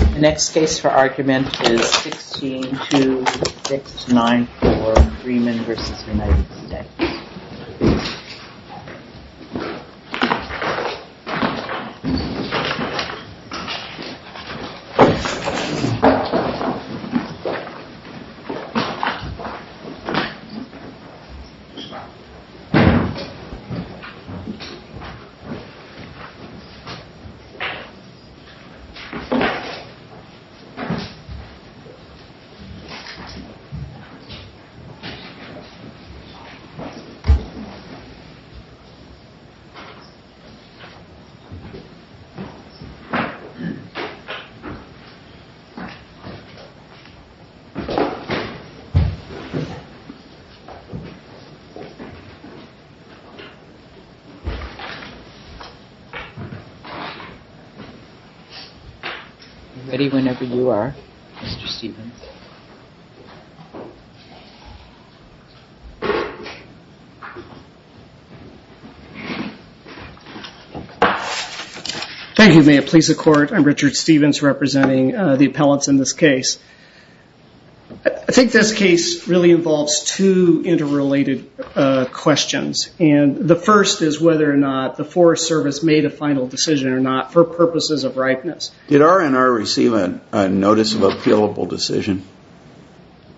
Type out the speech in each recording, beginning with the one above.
The next case for argument is 16-2-6-9-4, Freeman v. United States. Please stand by for a moment of silence. Ready whenever you are, Mr. Stephens. Thank you. May it please the court. I'm Richard Stephens representing the appellants in this case. I think this case really involves two interrelated questions. The first is whether or not the Forest Service made a final decision or not for purposes of ripeness. Did R&R receive a notice of appealable decision?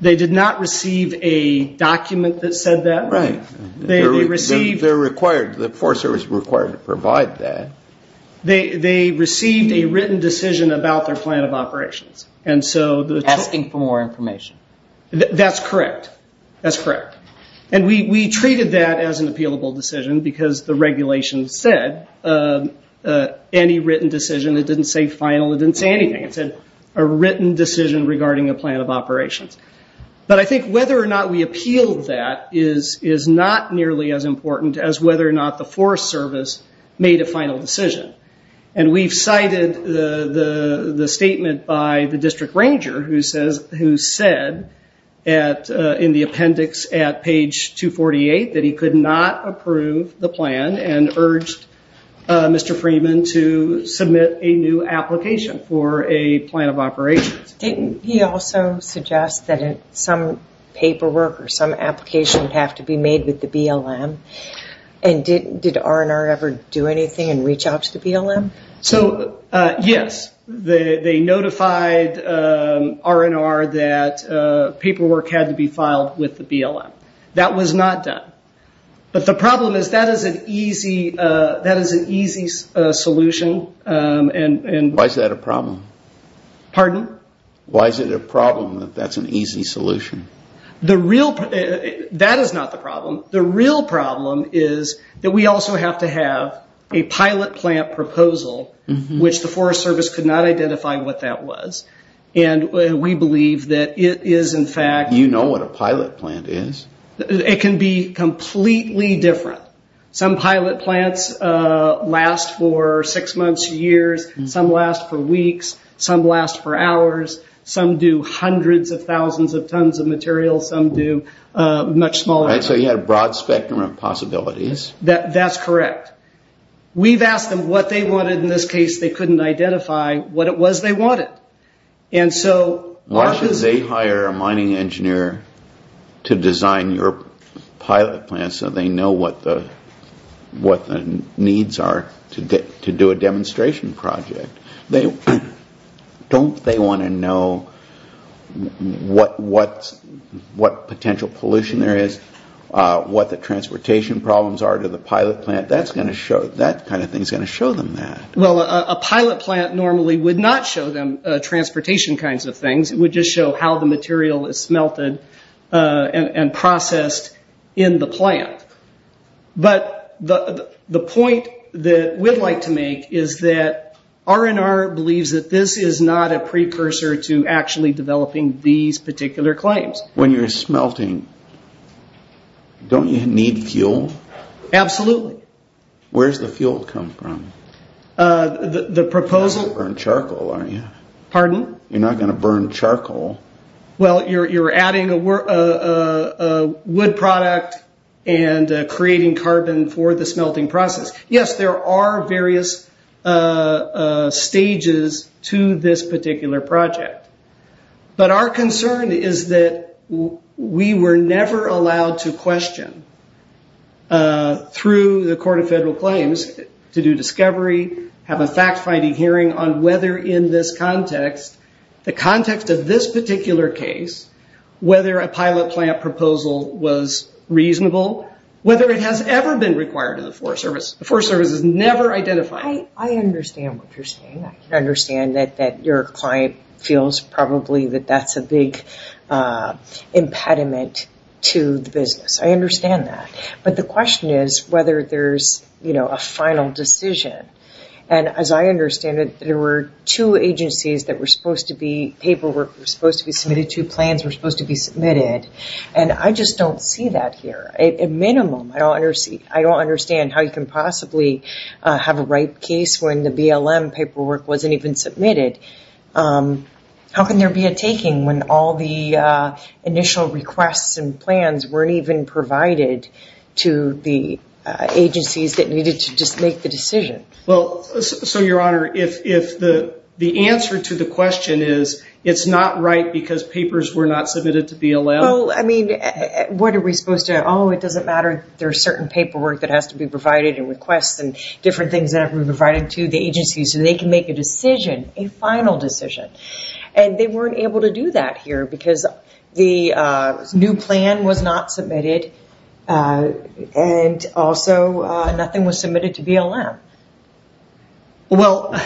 They did not receive a document that said that. Right. The Forest Service was required to provide that. They received a written decision about their plan of operations. Asking for more information. That's correct. We treated that as an appealable decision because the regulation said any written decision. It didn't say final. It didn't say anything. It said a written decision regarding a plan of operations. I think whether or not we appealed that is not nearly as important as whether or not the Forest Service made a final decision. We cited the statement by the district ranger who said in the appendix at page 248 that he could not approve the plan. And urged Mr. Freeman to submit a new application for a plan of operations. He also suggests that some paperwork or some application would have to be made with the BLM. Did R&R ever do anything and reach out to the BLM? Yes. They notified R&R that paperwork had to be filed with the BLM. That was not done. But the problem is that is an easy solution. Why is that a problem? Pardon? Why is it a problem that that's an easy solution? That is not the problem. The real problem is that we also have to have a pilot plant proposal which the Forest Service could not identify what that was. And we believe that it is in fact... You know what a pilot plant is? It can be completely different. Some pilot plants last for six months, years. Some last for weeks. Some last for hours. Some do hundreds of thousands of tons of material. Some do much smaller... So you had a broad spectrum of possibilities. That's correct. We've asked them what they wanted. In this case they couldn't identify what it was they wanted. And so... Why should they hire a mining engineer to design your pilot plant so they know what the needs are to do a demonstration project? Don't they want to know what potential pollution there is? What the transportation problems are to the pilot plant? That kind of thing is going to show them that. Well, a pilot plant normally would not show them transportation kinds of things. It would just show how the material is smelted and processed in the plant. But the point that we'd like to make is that R&R believes that this is not a precursor to actually developing these particular claims. When you're smelting, don't you need fuel? Absolutely. Where does the fuel come from? The proposal... You're not going to burn charcoal, are you? Pardon? You're not going to burn charcoal. Well, you're adding a wood product and creating carbon for the smelting process. Yes, there are various stages to this particular project. But our concern is that we were never allowed to question through the Court of Federal Claims to do discovery, have a fact-finding hearing on whether in this context, the context of this particular case, whether a pilot plant proposal was reasonable, whether it has ever been required to the Forest Service. The Forest Service has never identified it. I understand what you're saying. I understand that your client feels probably that that's a big impediment to the business. I understand that. But the question is whether there's a final decision. And as I understand it, there were two agencies that were supposed to be paperwork, were supposed to be submitted, two plans were supposed to be submitted. And I just don't see that here. I don't understand how you can possibly have a ripe case when the BLM paperwork wasn't even submitted. How can there be a taking when all the initial requests and plans weren't even provided to the agencies that needed to just make the decision? Well, so, Your Honor, if the answer to the question is it's not right because papers were not submitted to BLM. Well, I mean, what are we supposed to do? Oh, it doesn't matter. There's certain paperwork that has to be provided and requests and different things that have to be provided to the agencies so they can make a decision, a final decision. And they weren't able to do that here because the new plan was not submitted and also nothing was submitted to BLM. Well,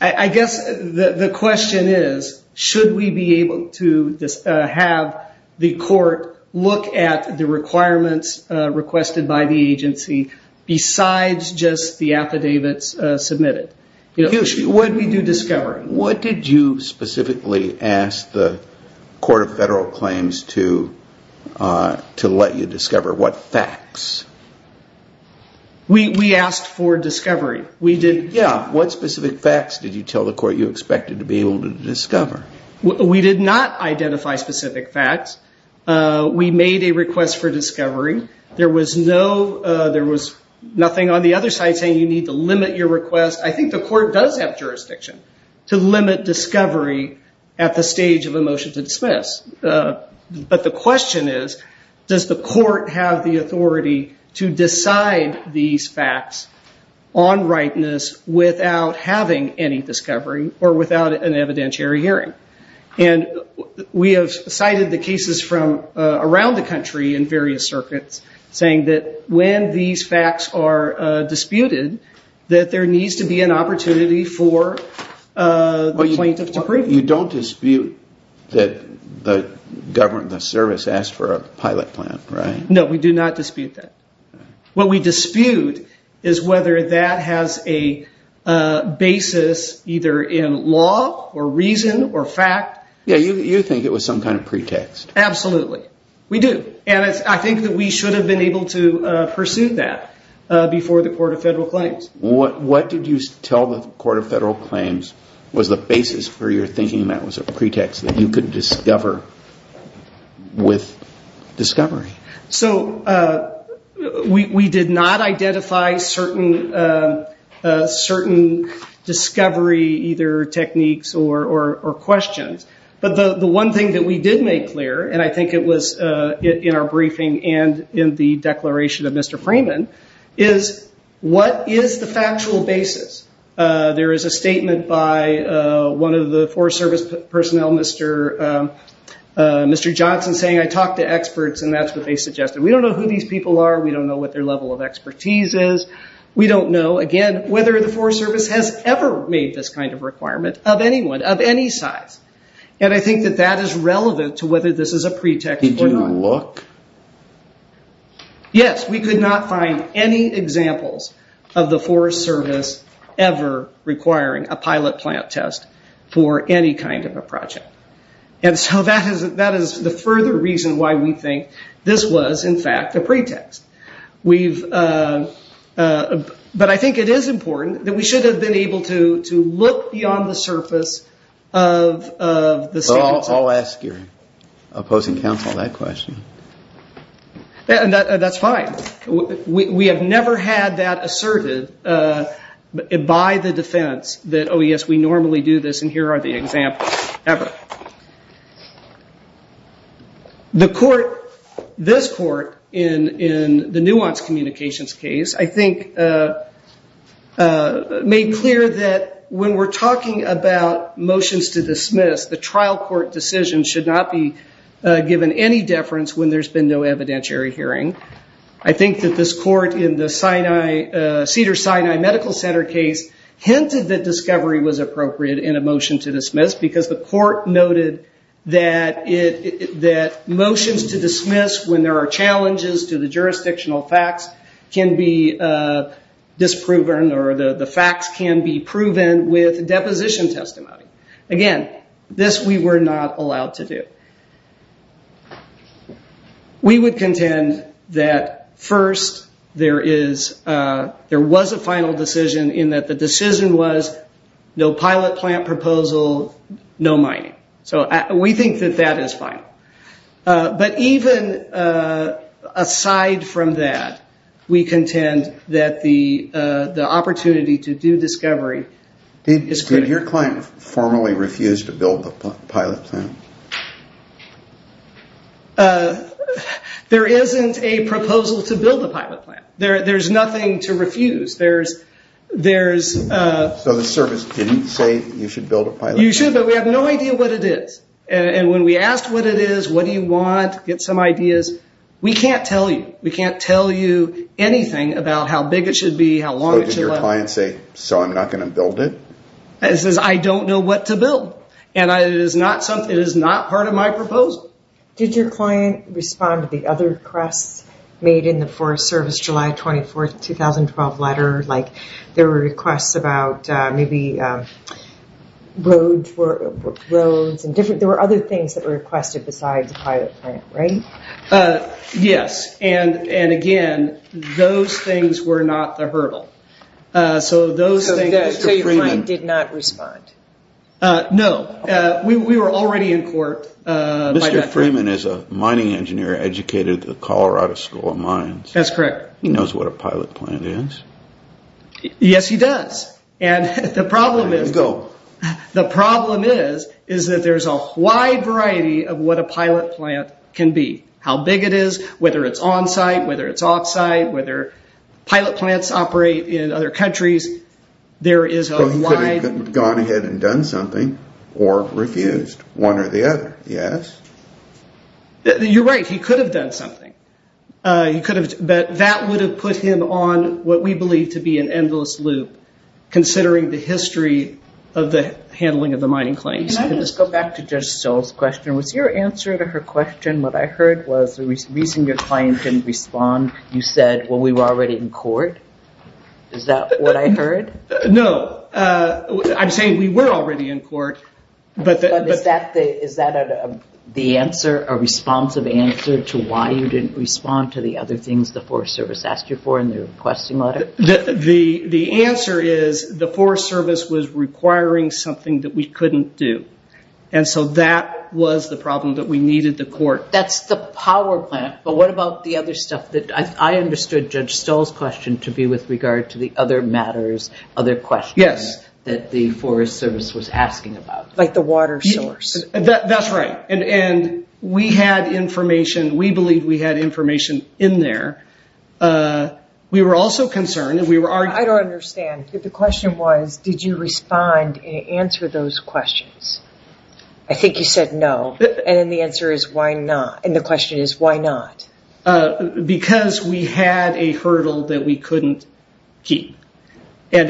I guess the question is, should we be able to have the court look at the requirements requested by the agency besides just the affidavits submitted? What did we do discovering? What did you specifically ask the Court of Federal Claims to let you discover? What facts? We asked for discovery. Yeah. What specific facts did you tell the court you expected to be able to discover? We did not identify specific facts. We made a request for discovery. There was nothing on the other side saying you need to limit your request. I think the court does have jurisdiction to limit discovery at the stage of a motion to dismiss. But the question is, does the court have the authority to decide these facts on rightness without having any discovery or without an evidentiary hearing? And we have cited the cases from around the country in various circuits saying that when these facts are disputed, that there needs to be an opportunity for the plaintiff to prove it. But you don't dispute that the government, the service asked for a pilot plan, right? No, we do not dispute that. What we dispute is whether that has a basis either in law or reason or fact. Yeah, you think it was some kind of pretext. Absolutely. We do. And I think that we should have been able to pursue that before the Court of Federal Claims. What did you tell the Court of Federal Claims was the basis for your thinking that was a pretext that you could discover with discovery? So we did not identify certain discovery either techniques or questions. But the one thing that we did make clear, and I think it was in our briefing and in the declaration of Mr. Freeman, is what is the factual basis? There is a statement by one of the Forest Service personnel, Mr. Johnson, saying, I talked to experts and that's what they suggested. We don't know who these people are. We don't know what their level of expertise is. We don't know, again, whether the Forest Service has ever made this kind of requirement of anyone of any size. And I think that that is relevant to whether this is a pretext or not. Did you look? Yes, we could not find any examples of the Forest Service ever requiring a pilot plant test for any kind of a project. And so that is the further reason why we think this was, in fact, a pretext. But I think it is important that we should have been able to look beyond the surface of the standards. I'll ask your opposing counsel that question. That's fine. We have never had that asserted by the defense that, oh, yes, we normally do this and here are the examples ever. The court, this court, in the Nuance Communications case, I think made clear that when we're talking about motions to dismiss, the trial court decision should not be given any deference when there's been no evidentiary hearing. I think that this court in the Cedars-Sinai Medical Center case hinted that discovery was appropriate in a motion to dismiss because the court noted that motions to dismiss when there are challenges to the jurisdictional facts can be disproven or the facts can be proven with deposition testimony. Again, this we were not allowed to do. We would contend that, first, there was a final decision in that the decision was no pilot plant proposal, no mining. So we think that that is fine. But even aside from that, we contend that the opportunity to do discovery is critical. Did your client formally refuse to build the pilot plant? There isn't a proposal to build a pilot plant. There's nothing to refuse. So the service didn't say you should build a pilot plant? You should, but we have no idea what it is. And when we asked what it is, what do you want, get some ideas, we can't tell you. We can't tell you anything about how big it should be, how long it should last. Did your client say, so I'm not going to build it? It says, I don't know what to build. And it is not part of my proposal. Did your client respond to the other requests made in the Forest Service July 24, 2012 letter? Like there were requests about maybe roads and different, there were other things that were requested besides the pilot plant, right? Yes, and again, those things were not the hurdle. So your client did not respond? No, we were already in court. Mr. Freeman is a mining engineer educated at the Colorado School of Mines. That's correct. He knows what a pilot plant is? Yes, he does. And the problem is that there's a wide variety of what a pilot plant can be. How big it is, whether it's on-site, whether it's off-site, whether pilot plants operate in other countries. He could have gone ahead and done something or refused, one or the other, yes? You're right, he could have done something. But that would have put him on what we believe to be an endless loop, considering the history of the handling of the mining claims. Can I just go back to Judge Stoll's question? Was your answer to her question, what I heard, was the reason your client didn't respond, you said, well, we were already in court? Is that what I heard? No, I'm saying we were already in court. But is that the answer, a responsive answer to why you didn't respond to the other things the Forest Service asked you for in the requesting letter? The answer is the Forest Service was requiring something that we couldn't do. And so that was the problem that we needed the court. That's the power plant, but what about the other stuff? I understood Judge Stoll's question to be with regard to the other matters, other questions that the Forest Service was asking about. Like the water source. That's right. And we had information, we believed we had information in there. We were also concerned. I don't understand. The question was, did you respond and answer those questions? I think you said no. And the question is, why not? Because we had a hurdle that we couldn't keep. And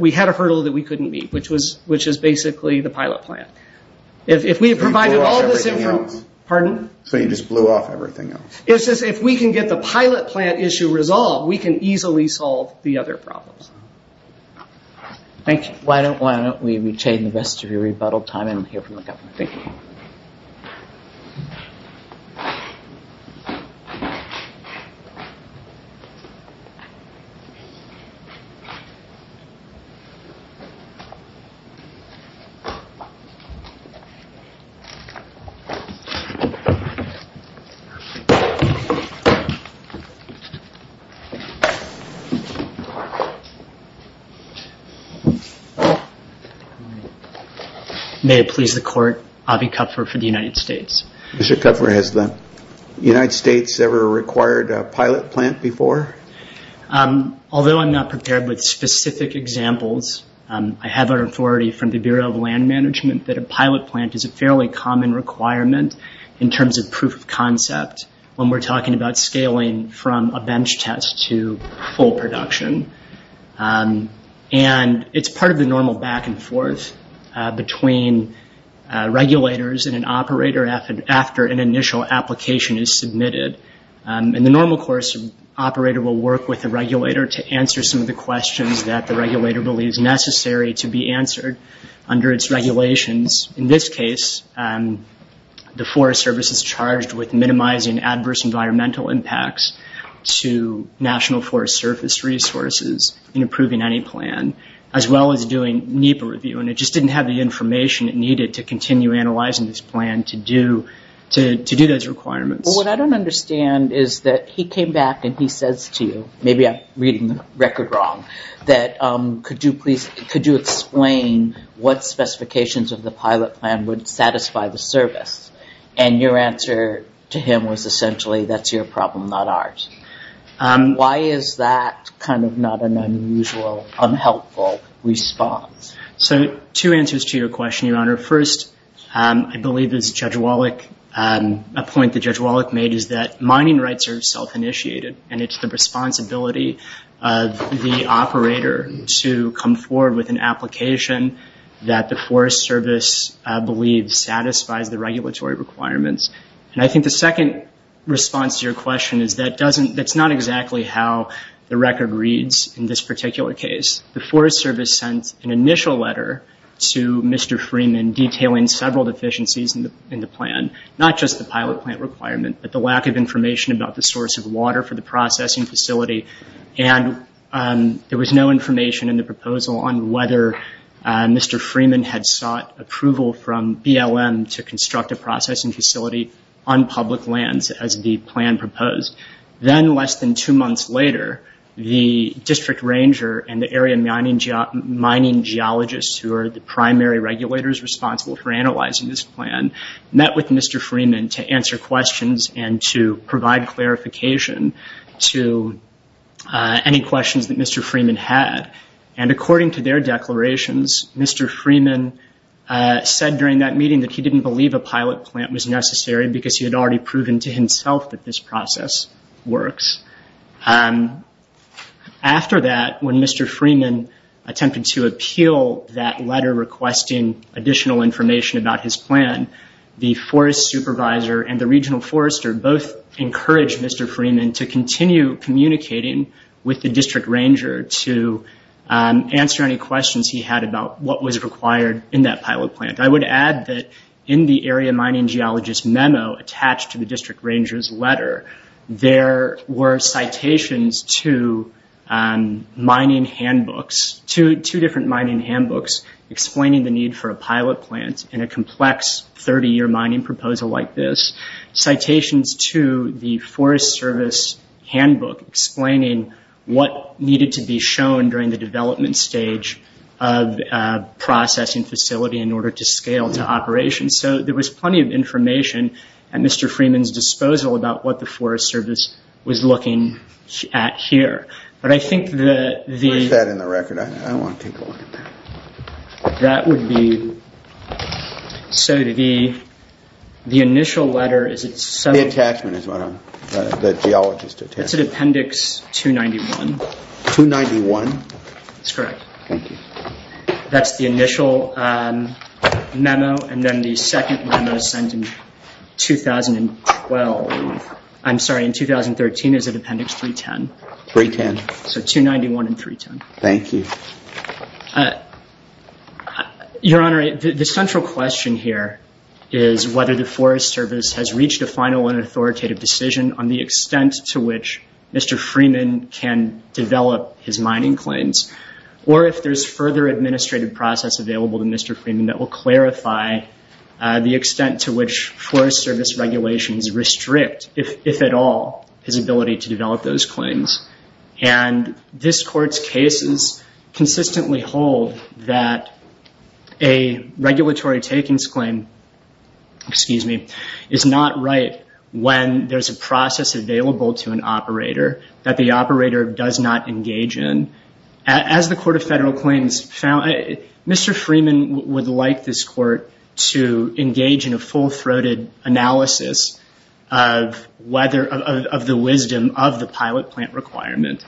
we had a hurdle that we couldn't meet, which is basically the pilot plant. If we had provided all this information. Pardon? So you just blew off everything else? If we can get the pilot plant issue resolved, we can easily solve the other problems. Thank you. Why don't we retain the rest of your rebuttal time and we'll hear from the government. Thank you. May it please the court. Avi Kupfer for the United States. Mr. Kupfer, has the United States ever required a pilot plant before? Although I'm not prepared with specific examples, I have our authority from the Bureau of Land Management that a pilot plant is a fairly common requirement in terms of proof of concept when we're talking about scaling from a bench test to full production. And it's part of the normal back and forth between regulators and an operator after an initial application is submitted. In the normal course, an operator will work with a regulator to answer some of the questions that the regulator believes necessary to be answered under its regulations. In this case, the Forest Service is charged with minimizing adverse environmental impacts to National Forest Service resources in approving any plan, as well as doing NEPA review. And it just didn't have the information it needed to continue analyzing this plan to do those requirements. What I don't understand is that he came back and he says to you, maybe I'm reading the record wrong, that could you explain what specifications of the pilot plant would satisfy the service. And your answer to him was essentially, that's your problem, not ours. Why is that kind of not an unusual, unhelpful response? So two answers to your question, Your Honor. First, I believe there's a point that Judge Wallach made is that mining rights are self-initiated and it's the responsibility of the operator to come forward with an application that the Forest Service believes satisfies the regulatory requirements. And I think the second response to your question is that that's not exactly how the record reads in this particular case. The Forest Service sent an initial letter to Mr. Freeman detailing several deficiencies in the plan, not just the pilot plant requirement, but the lack of information about the source of water for the processing facility. And there was no information in the proposal on whether Mr. Freeman had sought approval from BLM to construct a processing facility on public lands, as the plan proposed. Then less than two months later, the district ranger and the area mining geologists, who are the primary regulators responsible for analyzing this plan, met with Mr. Freeman to answer questions and to provide clarification to any questions that Mr. Freeman had. And according to their declarations, Mr. Freeman said during that meeting that he didn't believe a pilot plant was necessary because he had already proven to himself that this process works. After that, when Mr. Freeman attempted to appeal that letter requesting additional information about his plan, the forest supervisor and the regional forester both encouraged Mr. Freeman to continue communicating with the district ranger to answer any questions he had about what was required in that pilot plant. I would add that in the area mining geologist memo attached to the district ranger's letter, there were citations to mining handbooks, two different mining handbooks, explaining the need for a pilot plant in a complex 30-year mining proposal like this, citations to the Forest Service handbook explaining what needed to be shown during the development stage of a processing facility in order to scale to operation. So there was plenty of information at Mr. Freeman's disposal about what the Forest Service was looking at here. Where is that in the record? I want to take a look at that. That would be, so the initial letter is... The attachment is what I'm, the geologist attachment. It's in appendix 291. 291? That's correct. Thank you. That's the initial memo and then the second memo is sent in 2012. I'm sorry, in 2013 is it appendix 310? 310. So 291 and 310. Thank you. Your Honor, the central question here is whether the Forest Service has reached a final and authoritative decision on the extent to which Mr. Freeman can develop his mining claims or if there's further administrative process available to Mr. Freeman that will clarify the extent to which Forest Service regulations restrict, if at all, his ability to develop those claims. And this Court's cases consistently hold that a regulatory takings claim, excuse me, is not right when there's a process available to an operator that the operator does not engage in. As the Court of Federal Claims found, Mr. Freeman would like this Court to engage in a full-throated analysis of whether, of the wisdom of the pilot plant requirement.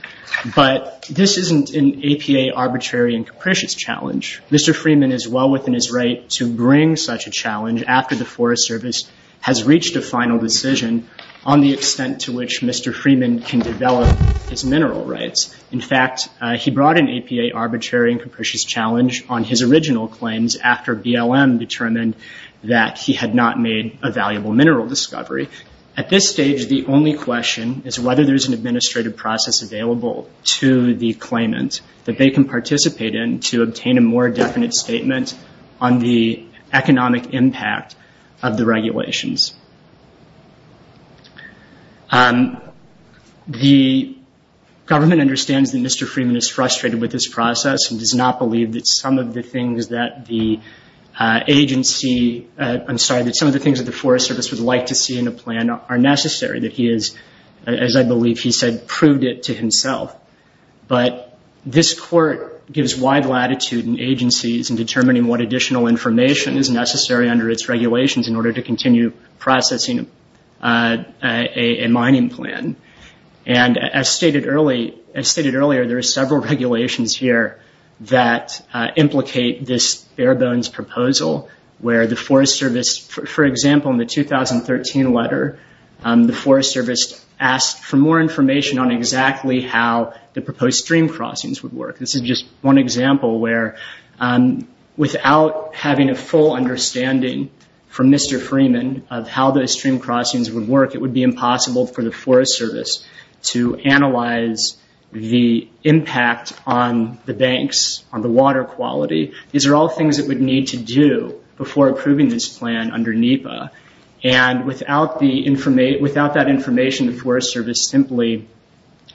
But this isn't an APA arbitrary and capricious challenge. Mr. Freeman is well within his right to bring such a challenge after the Forest Service has reached a final decision on the extent to which Mr. Freeman can develop his mineral rights. In fact, he brought an APA arbitrary and capricious challenge on his original claims after BLM determined that he had not made a valuable mineral discovery. At this stage, the only question is whether there's an administrative process available to the claimant that they can participate in to obtain a more definite statement on the economic impact of the regulations. The government understands that Mr. Freeman is frustrated with this process and does not believe that some of the things that the agency, I'm sorry, that some of the things that the Forest Service would like to see in a plan are necessary, that he has, as I believe he said, proved it to himself. But this Court gives wide latitude in agencies in determining what additional information is necessary under its regulations in order to continue processing a mining plan. And as stated earlier, there are several regulations here that implicate this bare-bones proposal where the Forest Service, for example, in the 2013 letter, the Forest Service asked for more information on exactly how the proposed stream crossings would work. This is just one example where without having a full understanding from Mr. Freeman of how those stream crossings would work, it would be impossible for the Forest Service to analyze the impact on the banks, on the water quality. These are all things that we'd need to do before approving this plan under NEPA. And without that information, the Forest Service simply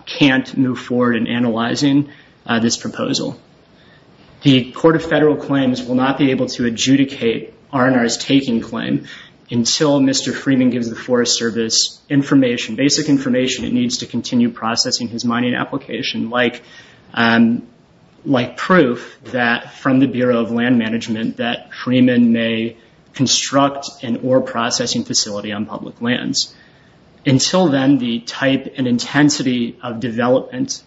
can't move forward in analyzing this proposal. The Court of Federal Claims will not be able to adjudicate R&R's taking claim until Mr. Freeman gives the Forest Service information, basic information it needs to continue processing his mining application, like proof from the Bureau of Land Management that Freeman may construct an ore processing facility on public lands. Until then, the type and intensity of development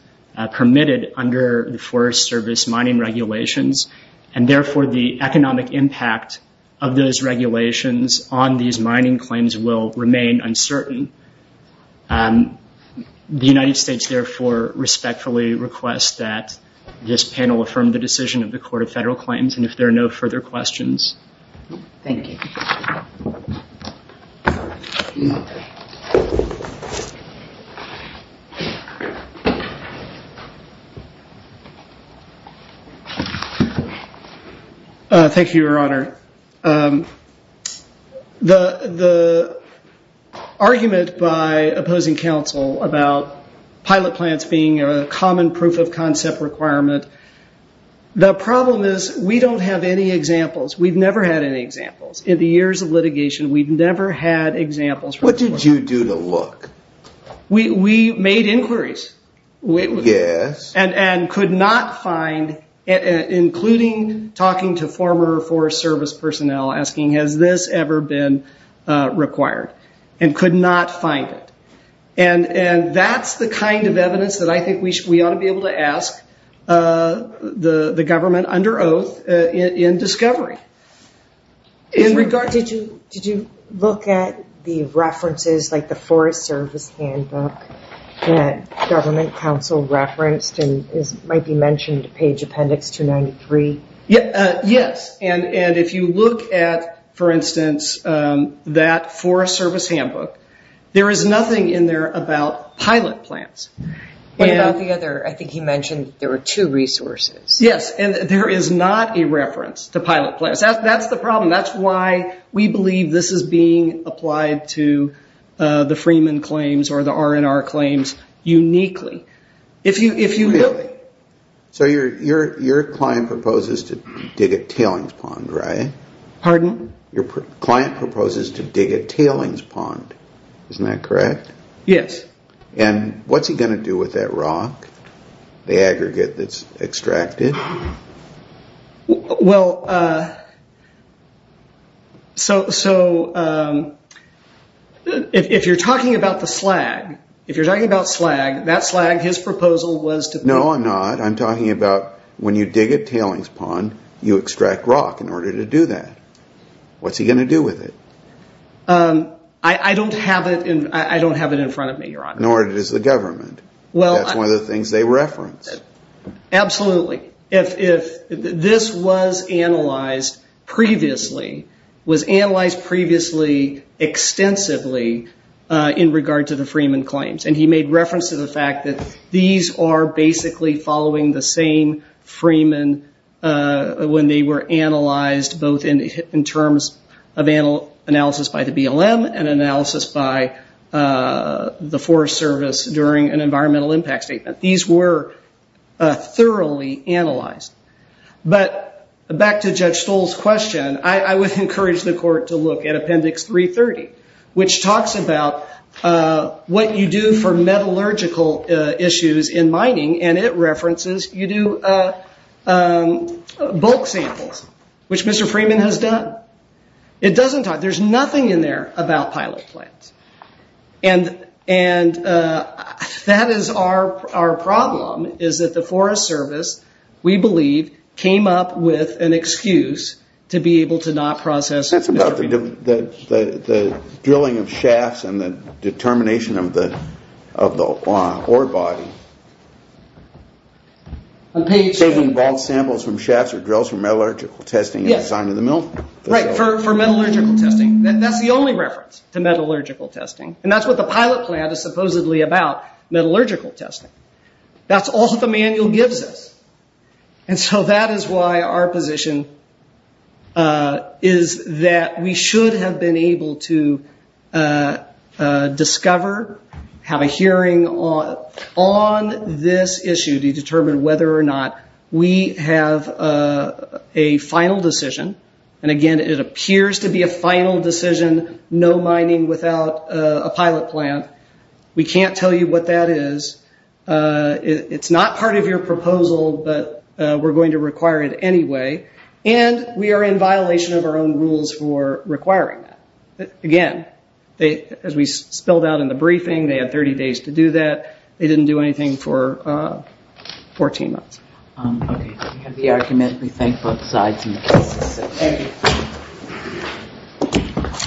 permitted under the Forest Service mining regulations and therefore the economic impact of those regulations on these mining claims will remain uncertain. The United States therefore respectfully requests that this panel affirm the decision of the Court of Federal Claims and if there are no further questions. Thank you. Thank you, Your Honor. The argument by opposing counsel about pilot plants being a common proof of concept requirement, the problem is we don't have any examples. We've never had any examples. In the years of litigation, we've never had examples. What did you do to look? We made inquiries. Yes. And could not find, including talking to former Forest Service personnel, asking has this ever been required, and could not find it. That's the kind of evidence that I think we ought to be able to ask the government under oath in discovery. Did you look at the references, like the Forest Service handbook that government counsel referenced and might be mentioned, page appendix 293? Yes. And if you look at, for instance, that Forest Service handbook, there is nothing in there about pilot plants. What about the other? I think he mentioned there were two resources. Yes. And there is not a reference to pilot plants. That's the problem. That's why we believe this is being applied to the Freeman claims or the R&R claims uniquely. Really? So your client proposes to dig a tailings pond, right? Pardon? Your client proposes to dig a tailings pond. Isn't that correct? Yes. And what's he going to do with that rock, the aggregate that's extracted? Well, so if you're talking about the slag, if you're talking about slag, that slag, his proposal was to... No, I'm not. I'm talking about when you dig a tailings pond, you extract rock in order to do that. What's he going to do with it? I don't have it in front of me, Your Honor. Nor does the government. That's one of the things they reference. Absolutely. If this was analyzed previously, was analyzed previously extensively in regard to the Freeman claims, and he made reference to the fact that these are basically following the same Freeman when they were analyzed, both in terms of analysis by the BLM and analysis by the Forest Service during an environmental impact statement. These were thoroughly analyzed. But back to Judge Stoll's question, I would encourage the court to look at Appendix 330, which talks about what you do for metallurgical issues in mining, and it references you do bulk samples, which Mr. Freeman has done. It doesn't talk... There's nothing in there about pilot plants. And that is our problem, is that the Forest Service, we believe, came up with an excuse to be able to not process... But that's about the drilling of shafts and the determination of the ore body. Saving bulk samples from shafts or drills for metallurgical testing... Right, for metallurgical testing. That's the only reference to metallurgical testing. And that's what the pilot plant is supposedly about, metallurgical testing. That's all that the manual gives us. And so that is why our position is that we should have been able to discover, have a hearing on this issue to determine whether or not we have a final decision. And again, it appears to be a final decision, no mining without a pilot plant. We can't tell you what that is. It's not part of your proposal, but we're going to require it anyway. And we are in violation of our own rules for requiring that. Again, as we spelled out in the briefing, they had 30 days to do that. They didn't do anything for 14 months. Okay, we have the argument. We thank both sides. Thank you.